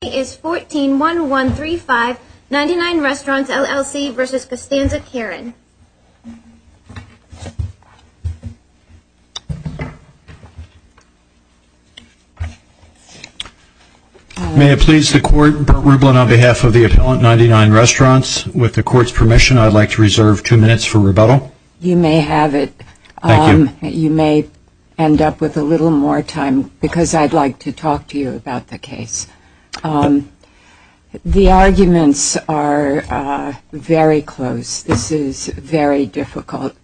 May it please the Court, Bert Rublin on behalf of the Appellant 99 Restaurants, with the Court's permission I'd like to reserve two minutes for rebuttal. You may have it. Thank you. You may end up with a little more time because I'd like to talk to you about the case. The arguments are very close. This is very difficult.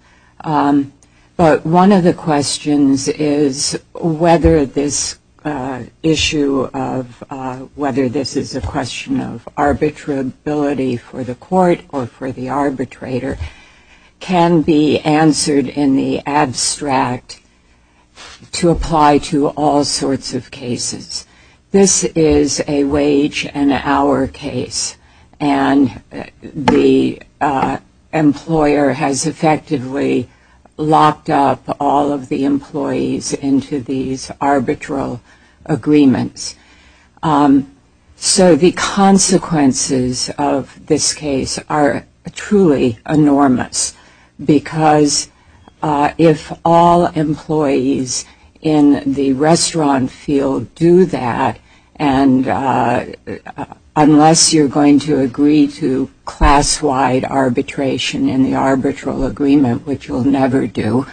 But one of the questions is whether this issue of whether this is a question of arbitrability for the Court or for the arbitrator can be answered in the abstract to apply to all sorts of cases. This is a wage and hour case and the employer has effectively locked up all of the employees into these arbitral agreements. So the consequences of this case are truly enormous because if all employees in the restaurant field do that and unless you're going to agree to class-wide arbitration in the arbitral agreement, which you'll never do,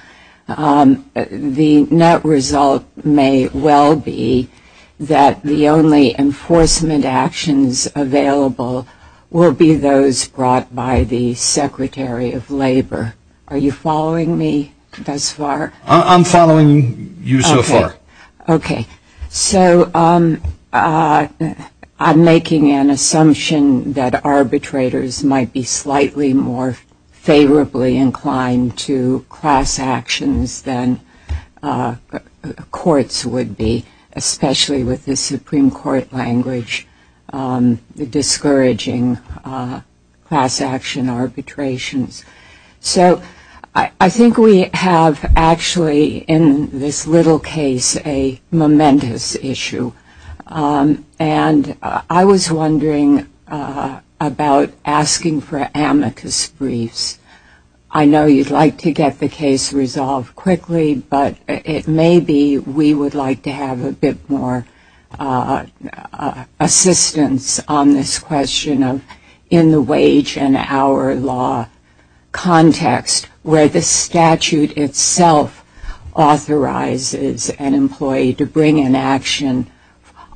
the net result may well be that the only enforcement actions available will be those brought by the Secretary of Labor. Are you following me thus far? I'm following you so far. Okay. So I'm making an assumption that arbitrators might be slightly more favorably inclined to class actions than courts would be, especially with the Supreme Court language, the discouraging class action arbitrations. So I think we have actually in this little case a momentous issue. And I was wondering about asking for amicus briefs. I know you'd like to get the case resolved quickly, but it may be we would like to have a bit more assistance on this question of in the wage and hour law context where the statute itself authorizes an employee to bring in action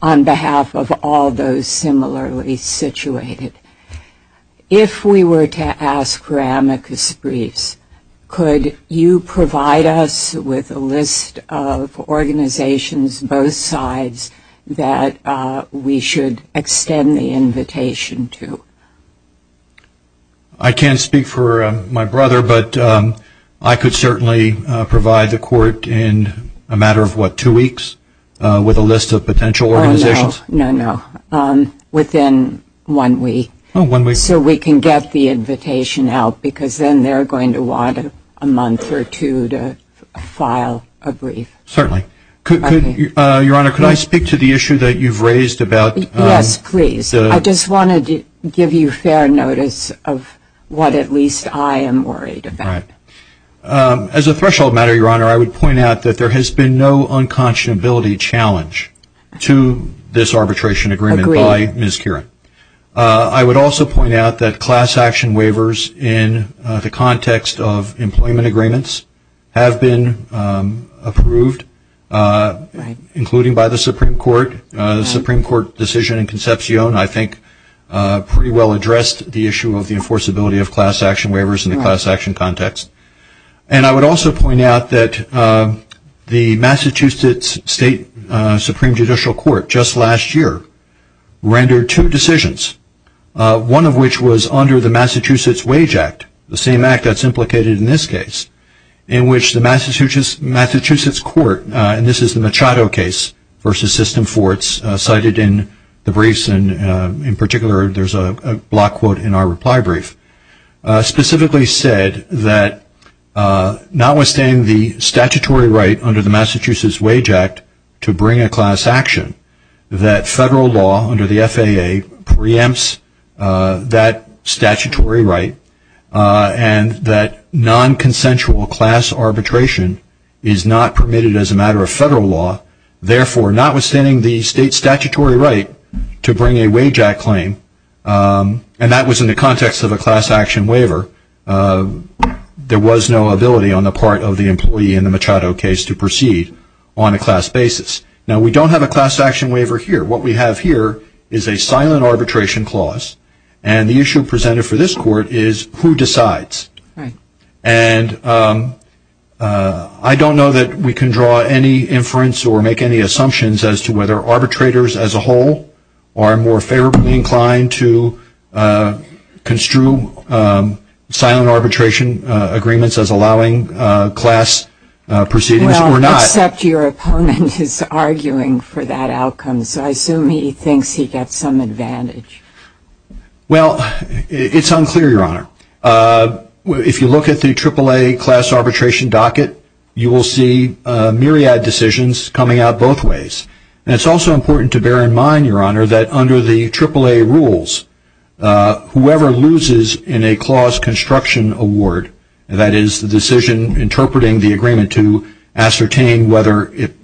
on behalf of all those similarly situated. If we were to ask for amicus briefs, could you provide us with a list of organizations both sides that we should extend the invitation to? I can't speak for my brother, but I could certainly provide the court in a matter of, what, two weeks with a list of potential organizations? No, no. Within one week. Oh, one week. So we can get the invitation out because then they're going to want a month or two to file a brief. Certainly. Your Honor, could I speak to the issue that you've raised about? Yes, please. I just wanted to give you fair notice of what at least I am worried about. As a threshold matter, Your Honor, I would point out that there has been no unconscionability challenge to this arbitration agreement by Ms. Kieran. I would also point out that class action waivers in the context of employment agreements have been approved, including by the Supreme Court. The Supreme Court decision in Concepcion, I think, pretty well addressed the issue of the And I would also point out that the Massachusetts State Supreme Judicial Court just last year rendered two decisions, one of which was under the Massachusetts Wage Act, the same act that's implicated in this case, in which the Massachusetts Court, and this is the Machado case versus System 4, it's cited in the briefs, and in particular there's a block quote in our reply brief, specifically said that notwithstanding the statutory right under the Massachusetts Wage Act to bring a class action, that federal law under the FAA preempts that statutory right, and that nonconsensual class arbitration is not permitted as a matter of federal law, therefore notwithstanding the state's statutory right to bring a wage act claim, and that was in the context of a class action waiver, there was no ability on the part of the employee in the Machado case to proceed on a class basis. Now we don't have a class action waiver here. What we have here is a silent arbitration clause, and the issue presented for this court is who decides, and I don't know that we can draw any inference or make any assumptions as to whether to construe silent arbitration agreements as allowing class proceedings or not. Except your opponent is arguing for that outcome, so I assume he thinks he gets some advantage. Well, it's unclear, Your Honor. If you look at the AAA class arbitration docket, you will see myriad decisions coming out both ways, and it's also important to bear in mind, that under the AAA rules, whoever loses in a clause construction award, that is the decision interpreting the agreement to ascertain whether it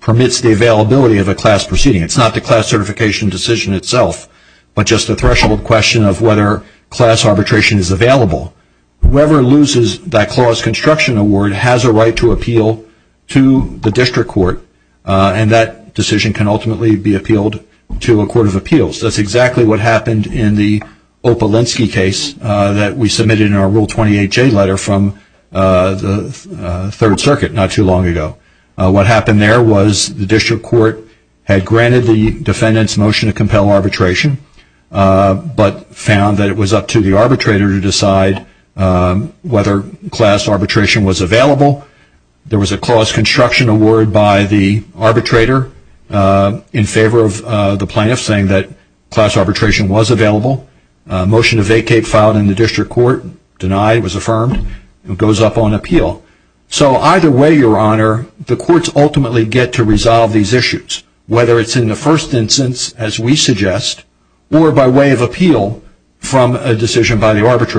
permits the availability of a class proceeding, it's not the class certification decision itself, but just a threshold question of whether class arbitration is available, whoever loses that clause construction award has a right to appeal to the district court, and that decision can ultimately be appealed to a court of appeals. That's exactly what happened in the Opalinsky case that we submitted in our Rule 28J letter from the Third Circuit not too long ago. What happened there was the district court had granted the defendant's motion to compel arbitration, but found that it was up to the clause construction award by the arbitrator in favor of the plaintiff, saying that class arbitration was available. Motion to vacate filed in the district court, denied, was affirmed, goes up on appeal. So either way, Your Honor, the courts ultimately get to resolve these issues, whether it's in the first instance, as we suggest, or by way of appeal from a decision by the on what is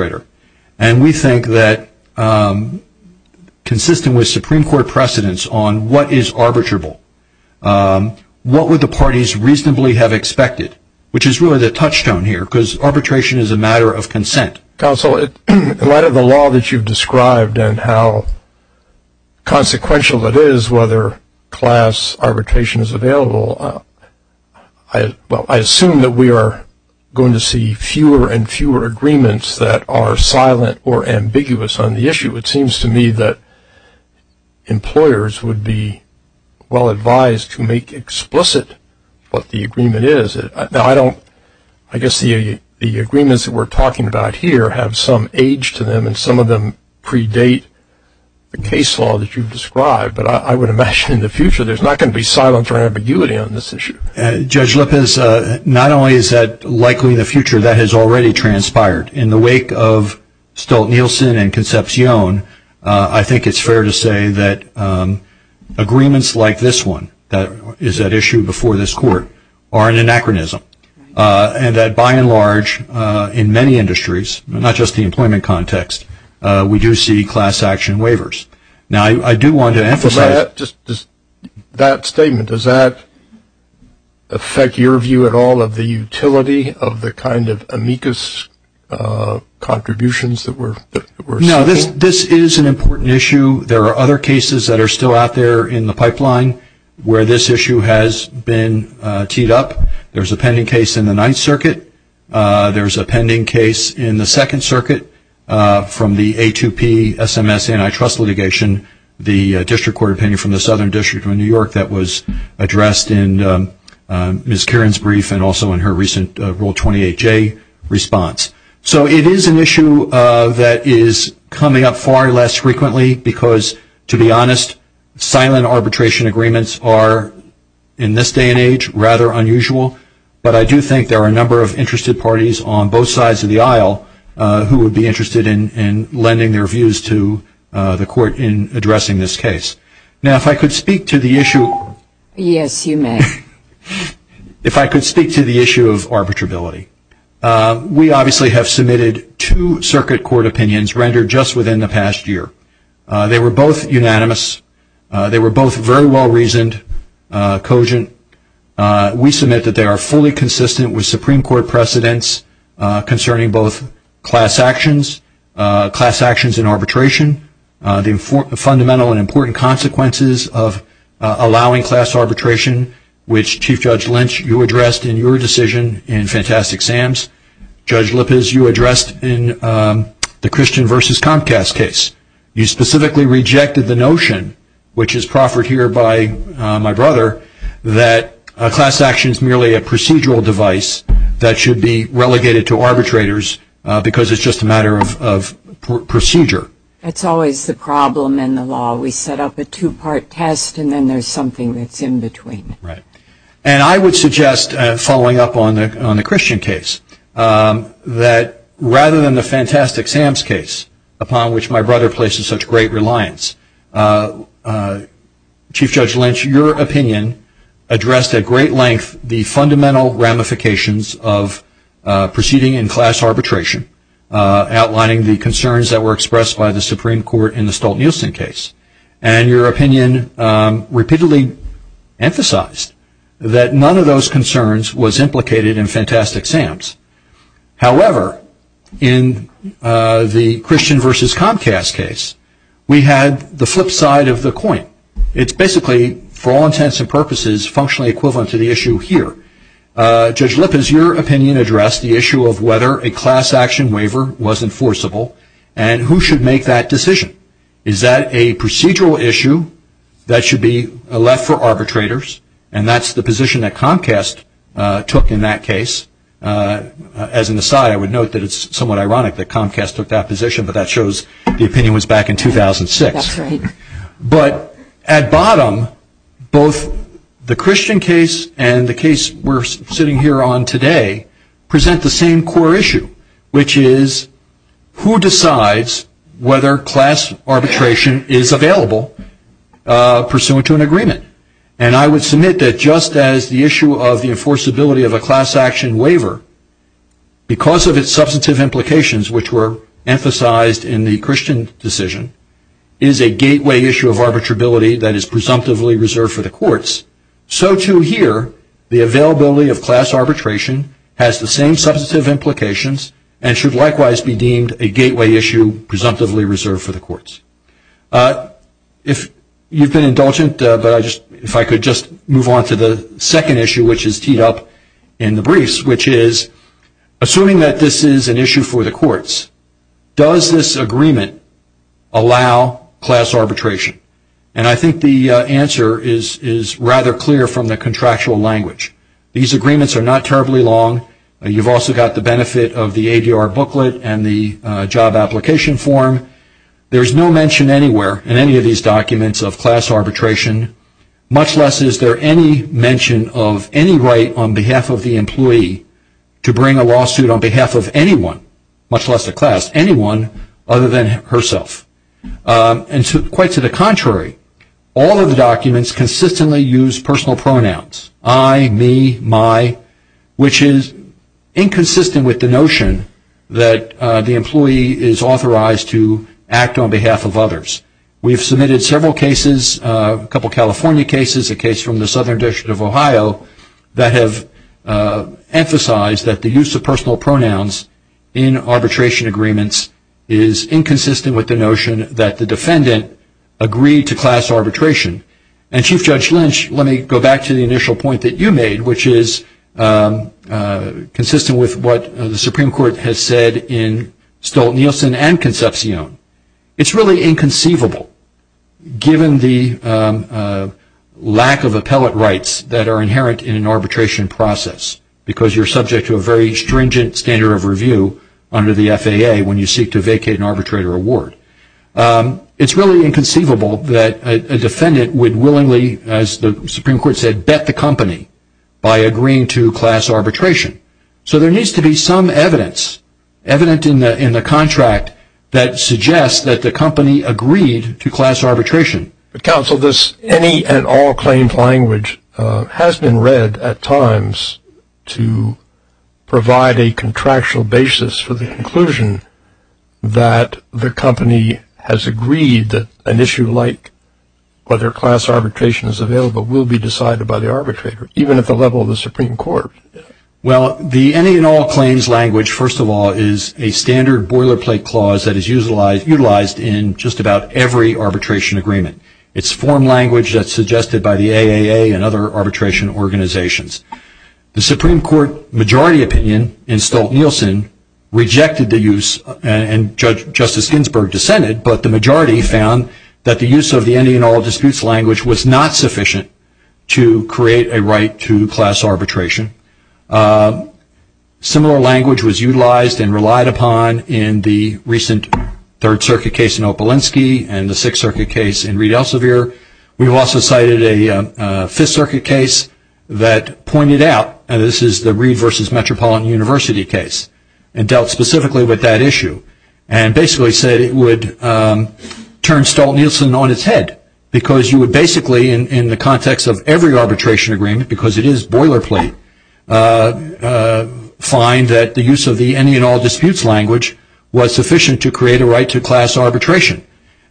arbitrable. What would the parties reasonably have expected, which is really the touchstone here, because arbitration is a matter of consent. Counsel, in light of the law that you've described and how consequential it is, whether class arbitration is available, well, I assume that we are going to see fewer and fewer agreements that are silent or ambiguous on the issue. It seems to me that employers would be well advised to make explicit what the agreement is. Now, I don't, I guess the agreements that we're talking about here have some age to them, and some of them predate the case law that you've described, but I would imagine in the future there's not going to be silence or ambiguity on this issue. Judge Lippis, not only is that I think it's fair to say that agreements like this one that is at issue before this court are an anachronism, and that by and large, in many industries, not just the employment context, we do see class action waivers. Now, I do want to emphasize that statement. Does that affect your view at all of the utility of the kind of amicus contributions that were made to this case? Well, this is an important issue. There are other cases that are still out there in the pipeline where this issue has been teed up. There's a pending case in the Ninth Circuit. There's a pending case in the Second Circuit from the A2P SMS antitrust litigation, the district court opinion from the Southern District of New York that was addressed in her recent Rule 28J response. So it is an issue that is coming up far less frequently because, to be honest, silent arbitration agreements are, in this day and age, rather unusual, but I do think there are a number of interested parties on both sides of the aisle who would be interested in lending their views to the court in addressing this case. Now, if I could speak to the issue... Yes, you may. If I could speak to the issue of arbitrability, we obviously have submitted two circuit court opinions rendered just within the past year. They were both unanimous. They were both very well reasoned, cogent. We submit that they are fully consistent with Supreme Court precedents concerning both class actions, class actions in arbitration, the fundamental and important consequences of allowing class arbitration, which Chief Judge Lynch, you addressed in your decision in Fantastic Sam's. Judge Lippes, you addressed in the Christian versus Comcast case. You specifically rejected the notion, which is proffered here by my brother, that a class action is merely a procedural device that should be relegated to arbitrators because it's just a matter of procedure. That's always the problem in the law. We set up a two-part test and then there's something that's in between. Right. And I would suggest, following up on the Christian case, that rather than the Fantastic Sam's case, upon which my brother places such great reliance, Chief Judge Lynch, your opinion addressed at great length the fundamental ramifications of proceeding in class arbitration, outlining the concerns that were expressed by the Supreme Court in the Stolt-Nielsen case. And your opinion repeatedly emphasized that none of those concerns was implicated in Fantastic Sam's. However, in the Christian versus Comcast case, we had the flip side of the coin. It's basically, for all intents and purposes, functionally equivalent to the issue here. Judge Lippis, your opinion addressed the issue of whether a class action waiver was enforceable and who should make that decision. Is that a procedural issue that should be left for arbitrators? And that's the position that Comcast took in that case. As an aside, I would note that it's somewhat ironic that Comcast took that position, but that the Christian case and the case we're sitting here on today present the same core issue, which is who decides whether class arbitration is available pursuant to an agreement. And I would submit that just as the issue of the enforceability of a class action waiver, because of its substantive implications which were emphasized in the Christian decision, is a gateway issue of arbitrability that is presumptively reserved for the courts, so too here the availability of class arbitration has the same substantive implications and should likewise be deemed a gateway issue presumptively reserved for the courts. You've been indulgent, but if I could just move on to the second issue, which is teed up in the briefs, which is, assuming that this is an issue for the courts, does this agreement allow class arbitration? And I think the answer is rather clear from the contractual language. These agreements are not terribly long. You've also got the benefit of the ADR booklet and the job application form. There's no mention anywhere in any of these documents of class arbitration, much less is there any mention of any right on behalf of the employee to bring a lawsuit on herself. And quite to the contrary, all of the documents consistently use personal pronouns, I, me, my, which is inconsistent with the notion that the employee is authorized to act on behalf of others. We've submitted several cases, a couple California cases, a case from the Southern District of Ohio, that have emphasized that the use of personal pronouns in arbitration agreements is inconsistent with the notion that the defendant agreed to class arbitration. And Chief Judge Lynch, let me go back to the initial point that you made, which is consistent with what the Supreme Court has said in Stolt-Nielsen and Concepcion. It's really inconceivable, given the lack of appellate rights that are inherent in an arbitration process, because you're subject to a very stringent standard of review under the FAA when you seek to vacate an arbitrator award. It's really inconceivable that a defendant would willingly, as the Supreme Court said, bet the company by agreeing to class arbitration. So there needs to be some evidence, evident in the contract, that suggests that the company agreed to class arbitration. But counsel, this any and all claims language has been read at times to provide a contractual basis for the conclusion that the company has agreed that an issue like whether class arbitration is available will be decided by the arbitrator, even at the level of the Supreme Court. Well, the any and all claims language, first of all, is a standard boilerplate clause that is utilized in just about every arbitration agreement. It's form language that's suggested by the AAA and other arbitration organizations. The Supreme Court majority opinion in Stolt-Nielsen rejected the use, and Justice Ginsburg dissented, but the majority found that the use of the any and all disputes language was not sufficient to create a right to class arbitration. Similar language was utilized and relied upon in the recent Third Circuit case in Opelinski and the Sixth Circuit case in Reed Elsevier. We've also cited a Fifth Circuit case that pointed out, and this is the Reed versus Metropolitan University case, and dealt specifically with that issue, and basically said it would turn Stolt-Nielsen on its head because you would in the context of every arbitration agreement, because it is boilerplate, find that the use of the any and all disputes language was sufficient to create a right to class arbitration,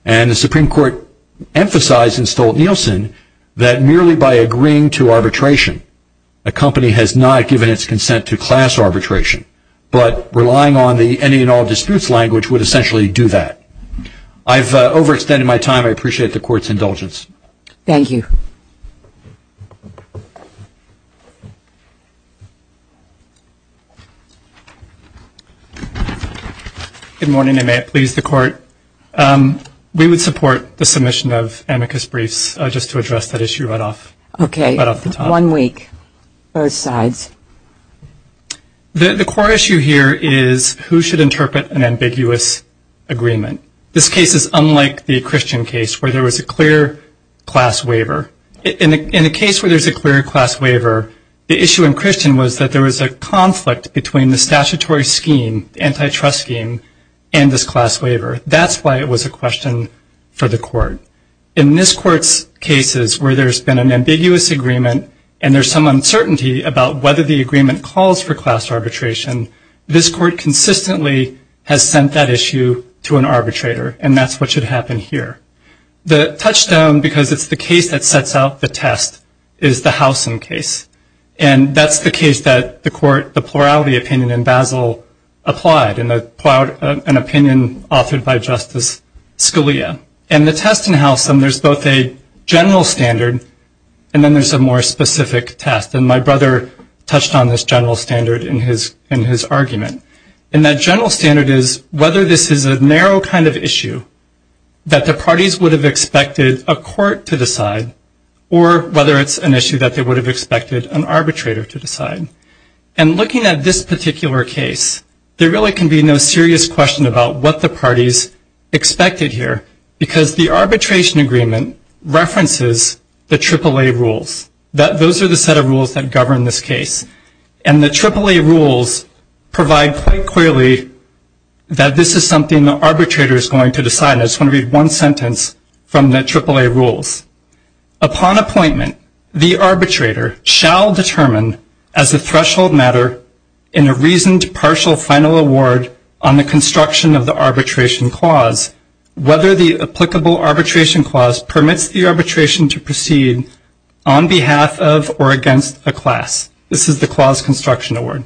and the Supreme Court emphasized in Stolt-Nielsen that merely by agreeing to arbitration, a company has not given its consent to class arbitration, but relying on the any and all disputes language would essentially do that. I've overextended my time. I appreciate the Court's thank you. Good morning, and may it please the Court. We would support the submission of amicus briefs just to address that issue right off the top. Okay, one week, both sides. The core issue here is who should interpret an ambiguous agreement. This case is unlike the waiver. In a case where there's a clear class waiver, the issue in Christian was that there was a conflict between the statutory scheme, the antitrust scheme, and this class waiver. That's why it was a question for the Court. In this Court's cases where there's been an ambiguous agreement, and there's some uncertainty about whether the agreement calls for class arbitration, this Court consistently has sent that issue to an arbitrator, and that's what should happen here. The touchstone, because it's the case that sets out the test, is the Howsam case, and that's the case that the Plurality Opinion in Basel applied, an opinion offered by Justice Scalia. And the test in Howsam, there's both a general standard, and then there's a more specific test, and my brother touched on this general standard in his argument. And that general standard is whether this is a would have expected a court to decide, or whether it's an issue that they would have expected an arbitrator to decide. And looking at this particular case, there really can be no serious question about what the parties expected here, because the arbitration agreement references the AAA rules. Those are the set of rules that govern this case, and the AAA rules provide quite a number of reasons for the arbitration agreement to decide. I just want to read one sentence from the AAA rules. Upon appointment, the arbitrator shall determine as a threshold matter in a reasoned partial final award on the construction of the arbitration clause, whether the applicable arbitration clause permits the arbitration to proceed on behalf of or against a class. This is the clause construction award.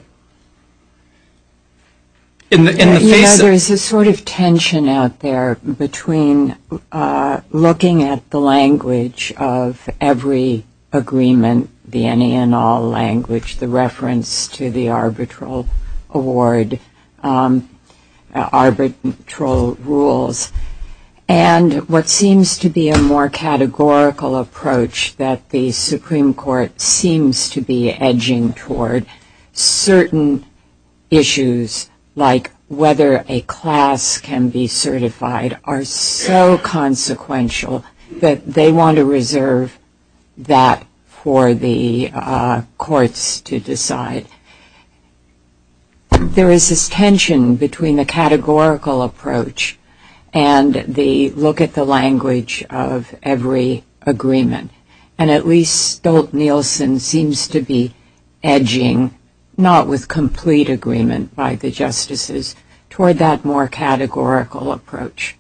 There is a sort of tension out there between looking at the language of every agreement, the any and all language, the reference to the arbitral award, arbitral rules, and what seems to be a more categorical approach that the Supreme Court seems to be edging toward, certainly certain issues like whether a class can be certified are so consequential that they want to reserve that for the courts to decide. There is this tension between the categorical approach and the look at the language of every agreement, and at least Stolt-Nielsen seems to be edging, not with complete agreement by the justices, toward that more categorical approach.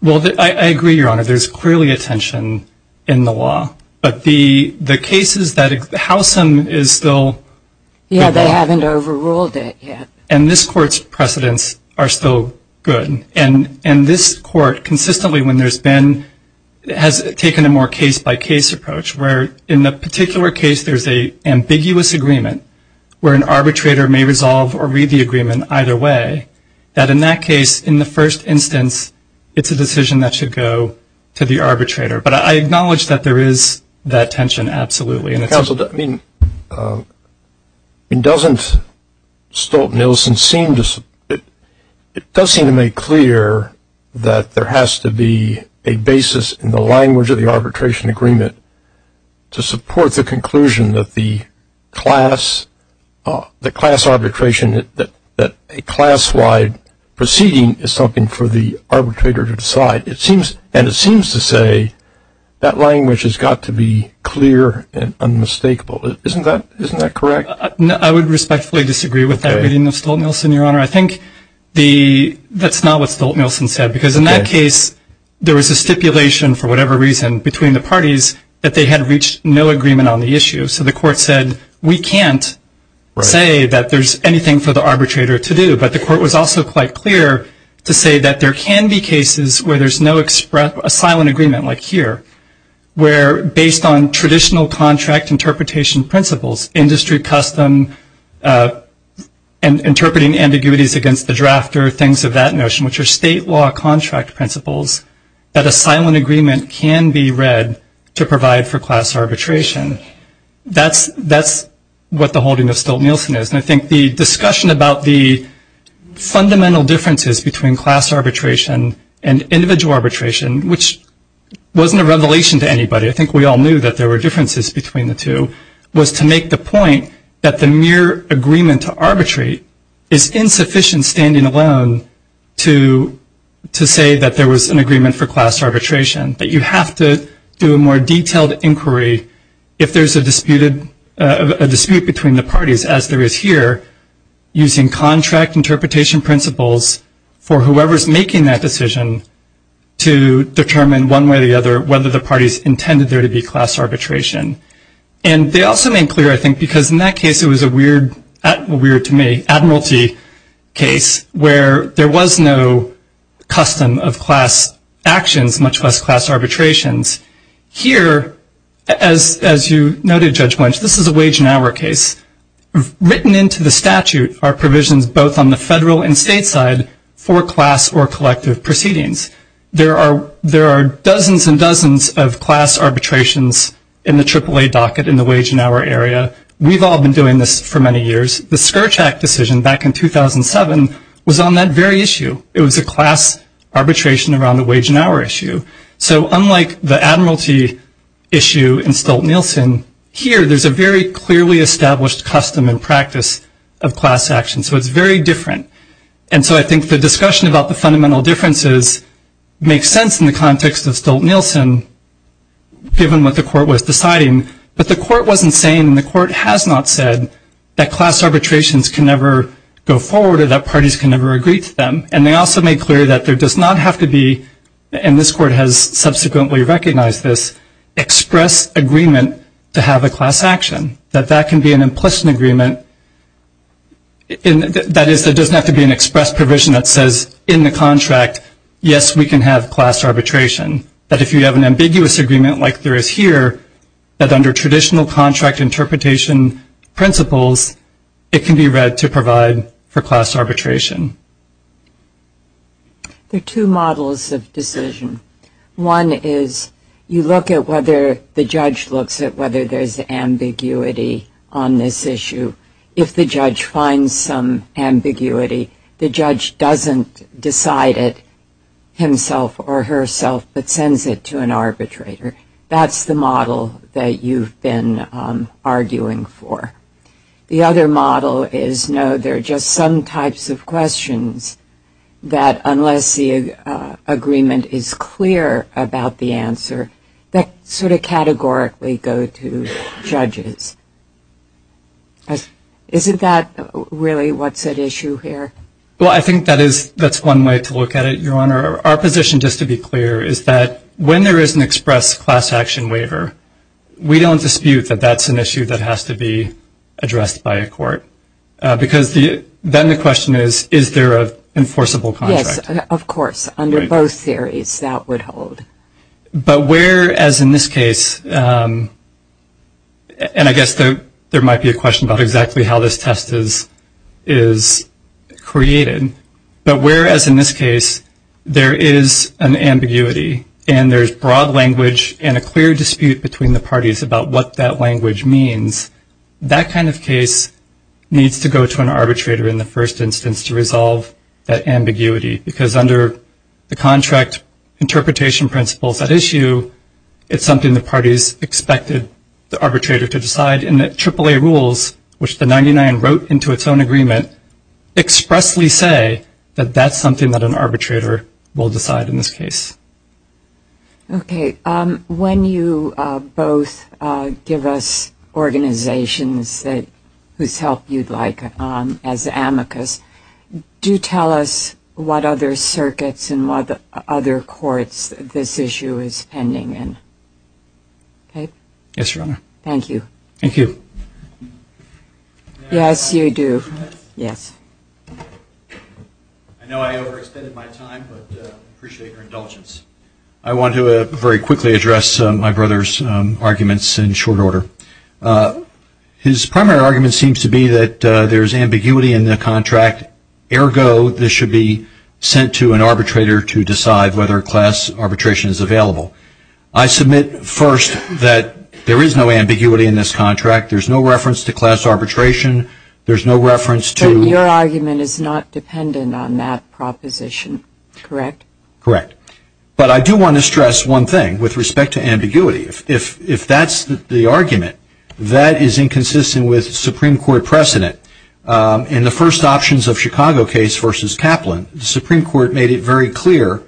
Well, I agree, Your Honor. There's clearly a tension in the law, but the cases that Howsam is still... Yeah, they haven't overruled it yet. And this Court's precedents are still good, and this Court consistently, when there's been, has taken a more case-by-case approach, where in the particular case there's an ambiguous agreement where an arbitrator may resolve or read the agreement either way, that in that case, in the first instance, it's a decision that should go to the arbitrator. But I acknowledge that there is that tension, absolutely. And it's... Counsel, I mean, doesn't Stolt-Nielsen seem to... It does seem to make clear that there has to be a basis in the language of the arbitration agreement to support the conclusion that the class, the class arbitration, that a class-wide proceeding is something for the arbitrator to decide. And it seems to say that language has got to be clear and unmistakable. Isn't that correct? I would respectfully disagree with that reading of Stolt-Nielsen, Your Honor. I think the... That's not what Stolt-Nielsen said, because in that case, there was a stipulation, for whatever reason, between the parties that they had reached no agreement on the issue. So the Court said, we can't say that there's anything for the arbitrator to do. But the Court was also quite clear to say that there can be cases where there's no express, a silent agreement, like here, where based on traditional contract interpretation principles, industry custom, and interpreting ambiguities against the drafter, things of that notion, which are state law contract principles, that a silent agreement can be read to provide for class arbitration. That's, that's what the holding of Stolt-Nielsen is. And I think the discussion about the fundamental differences between class arbitration and individual arbitration, which wasn't a revelation to anybody, I think we all knew that there were differences between the two, was to make the point that the mere agreement to arbitrate is insufficient standing alone to, to say that there was an agreement for class arbitration. That you have to do a more detailed inquiry if there's a disputed, a dispute between the parties, as there is here, using contract interpretation principles for whoever's making that decision to determine one way or the other whether the parties intended there to be class arbitration. And they also made clear, I think, because in that case, it was a weird, weird to me, admiralty case, where there was no custom of class actions, much less class arbitrations. Here, as, as you noted, Judge Blanche, this is a wage and hour case. Written into the statute are provisions both on the federal and state side for class or of class arbitrations in the AAA docket in the wage and hour area. We've all been doing this for many years. The Scourge Act decision back in 2007 was on that very issue. It was a class arbitration around the wage and hour issue. So unlike the admiralty issue in Stolt-Nielsen, here there's a very clearly established custom and practice of class action. So it's very different. And so I think the discussion about the fundamental differences makes sense in the context of given what the court was deciding. But the court wasn't saying, and the court has not said, that class arbitrations can never go forward or that parties can never agree to them. And they also made clear that there does not have to be, and this court has subsequently recognized this, express agreement to have a class action. That that can be an implicit agreement. That is, there doesn't have to be an express provision that says in the contract, yes, we can have class arbitration. But if you have an ambiguous agreement like there is here, that under traditional contract interpretation principles, it can be read to provide for class arbitration. There are two models of decision. One is you look at whether the judge looks at whether there's ambiguity on this issue. If the judge finds some ambiguity, the judge doesn't decide it himself or herself, but sends it to an arbitrator. That's the model that you've been arguing for. The other model is, no, there are just some types of questions that unless the agreement is clear about the answer, that sort of categorically go to judges. Isn't that really what's at issue here? Well, I think that is, that's one way to look at it, Your Honor. Our position, just to be clear, is that when there is an express class action waiver, we don't dispute that that's an issue that has to be addressed by a court. Because then the question is, is there an enforceable contract? Yes, of course, under both theories, that would hold. But where, as in this case, and I guess there might be a question about exactly how this test is created, but whereas in this case, there is an ambiguity and there's broad language and a clear dispute between the parties about what that language means, that kind of case needs to go to an arbitrator in the first instance to resolve that ambiguity. Because under the contract interpretation principles at issue, it's something the parties expected the arbitrator to decide. And the AAA rules, which the 99 wrote into its own agreement, expressly say that that's something that an arbitrator will decide in this case. Okay. When you both give us organizations whose help you'd like as amicus, do tell us what other circuits and what other courts this issue is pending in. Okay. Yes, Your Honor. Thank you. Thank you. Yes, you do. Yes. I know I overextended my time, but I appreciate your indulgence. I want to very quickly address my brother's arguments in short order. His primary argument seems to be that there's ambiguity in the contract. Ergo, this should be sent to an arbitrator to decide whether class arbitration is available. I submit first that there is no ambiguity in this contract. There's no reference to class arbitration. There's no reference to... But your argument is not dependent on that proposition, correct? Correct. But I do want to stress one thing with respect to ambiguity. If that's the argument, that is inconsistent with Supreme Court precedent. In the first options of Chicago case versus Kaplan, the Supreme Court made it very clear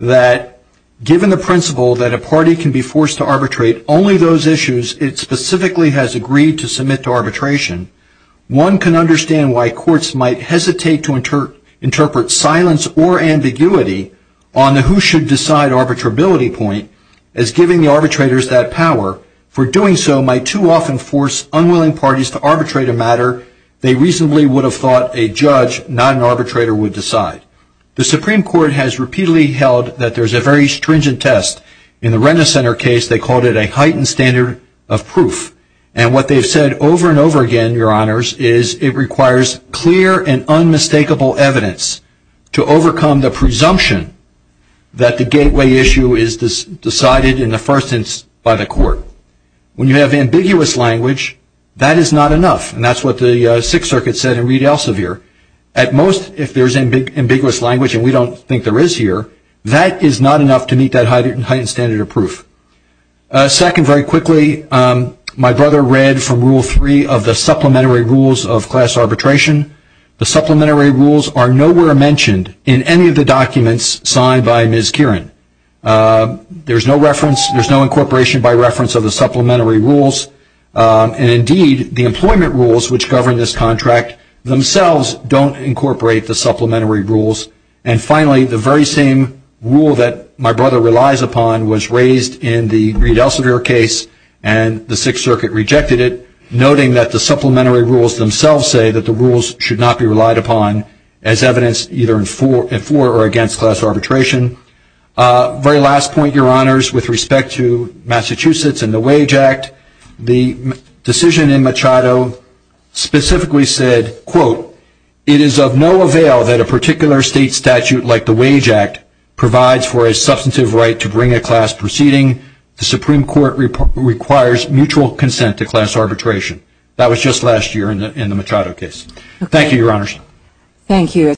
that given the principle that a party can be forced to arbitrate only those issues it specifically has agreed to submit to arbitration, one can understand why courts might hesitate to as giving the arbitrators that power. For doing so might too often force unwilling parties to arbitrate a matter they reasonably would have thought a judge, not an arbitrator, would decide. The Supreme Court has repeatedly held that there's a very stringent test. In the Renner Center case, they called it a heightened standard of proof. And what they've said over and over again, Your Honors, is it requires clear and unmistakable evidence to overcome the presumption that the gateway issue is decided in the first instance by the court. When you have ambiguous language, that is not enough. And that's what the Sixth Circuit said in Reed Elsevier. At most, if there's ambiguous language, and we don't think there is here, that is not enough to meet that heightened standard of proof. Second, very quickly, my brother read from Rule 3 of the supplementary rules of class arbitration. The supplementary rules are nowhere mentioned in any of the documents signed by Ms. Kieran. There's no incorporation by reference of the supplementary rules. And indeed, the employment rules which govern this contract themselves don't incorporate the supplementary rules. And finally, the very same rule that my brother relies upon was raised in the Reed Elsevier case, and the Sixth Circuit rejected it, noting that the supplementary rules themselves say that the rules should not be relied upon as evidence either for or against class arbitration. Very last point, Your Honors, with respect to Massachusetts and the Wage Act, the decision in Machado specifically said, quote, it is of no avail that a particular state statute like the Wage Act provides for a substantive right to bring a class proceeding. The Supreme Court requires mutual consent to class arbitration. That was just last year in the Machado case. Thank you, Your Honors. Thank you.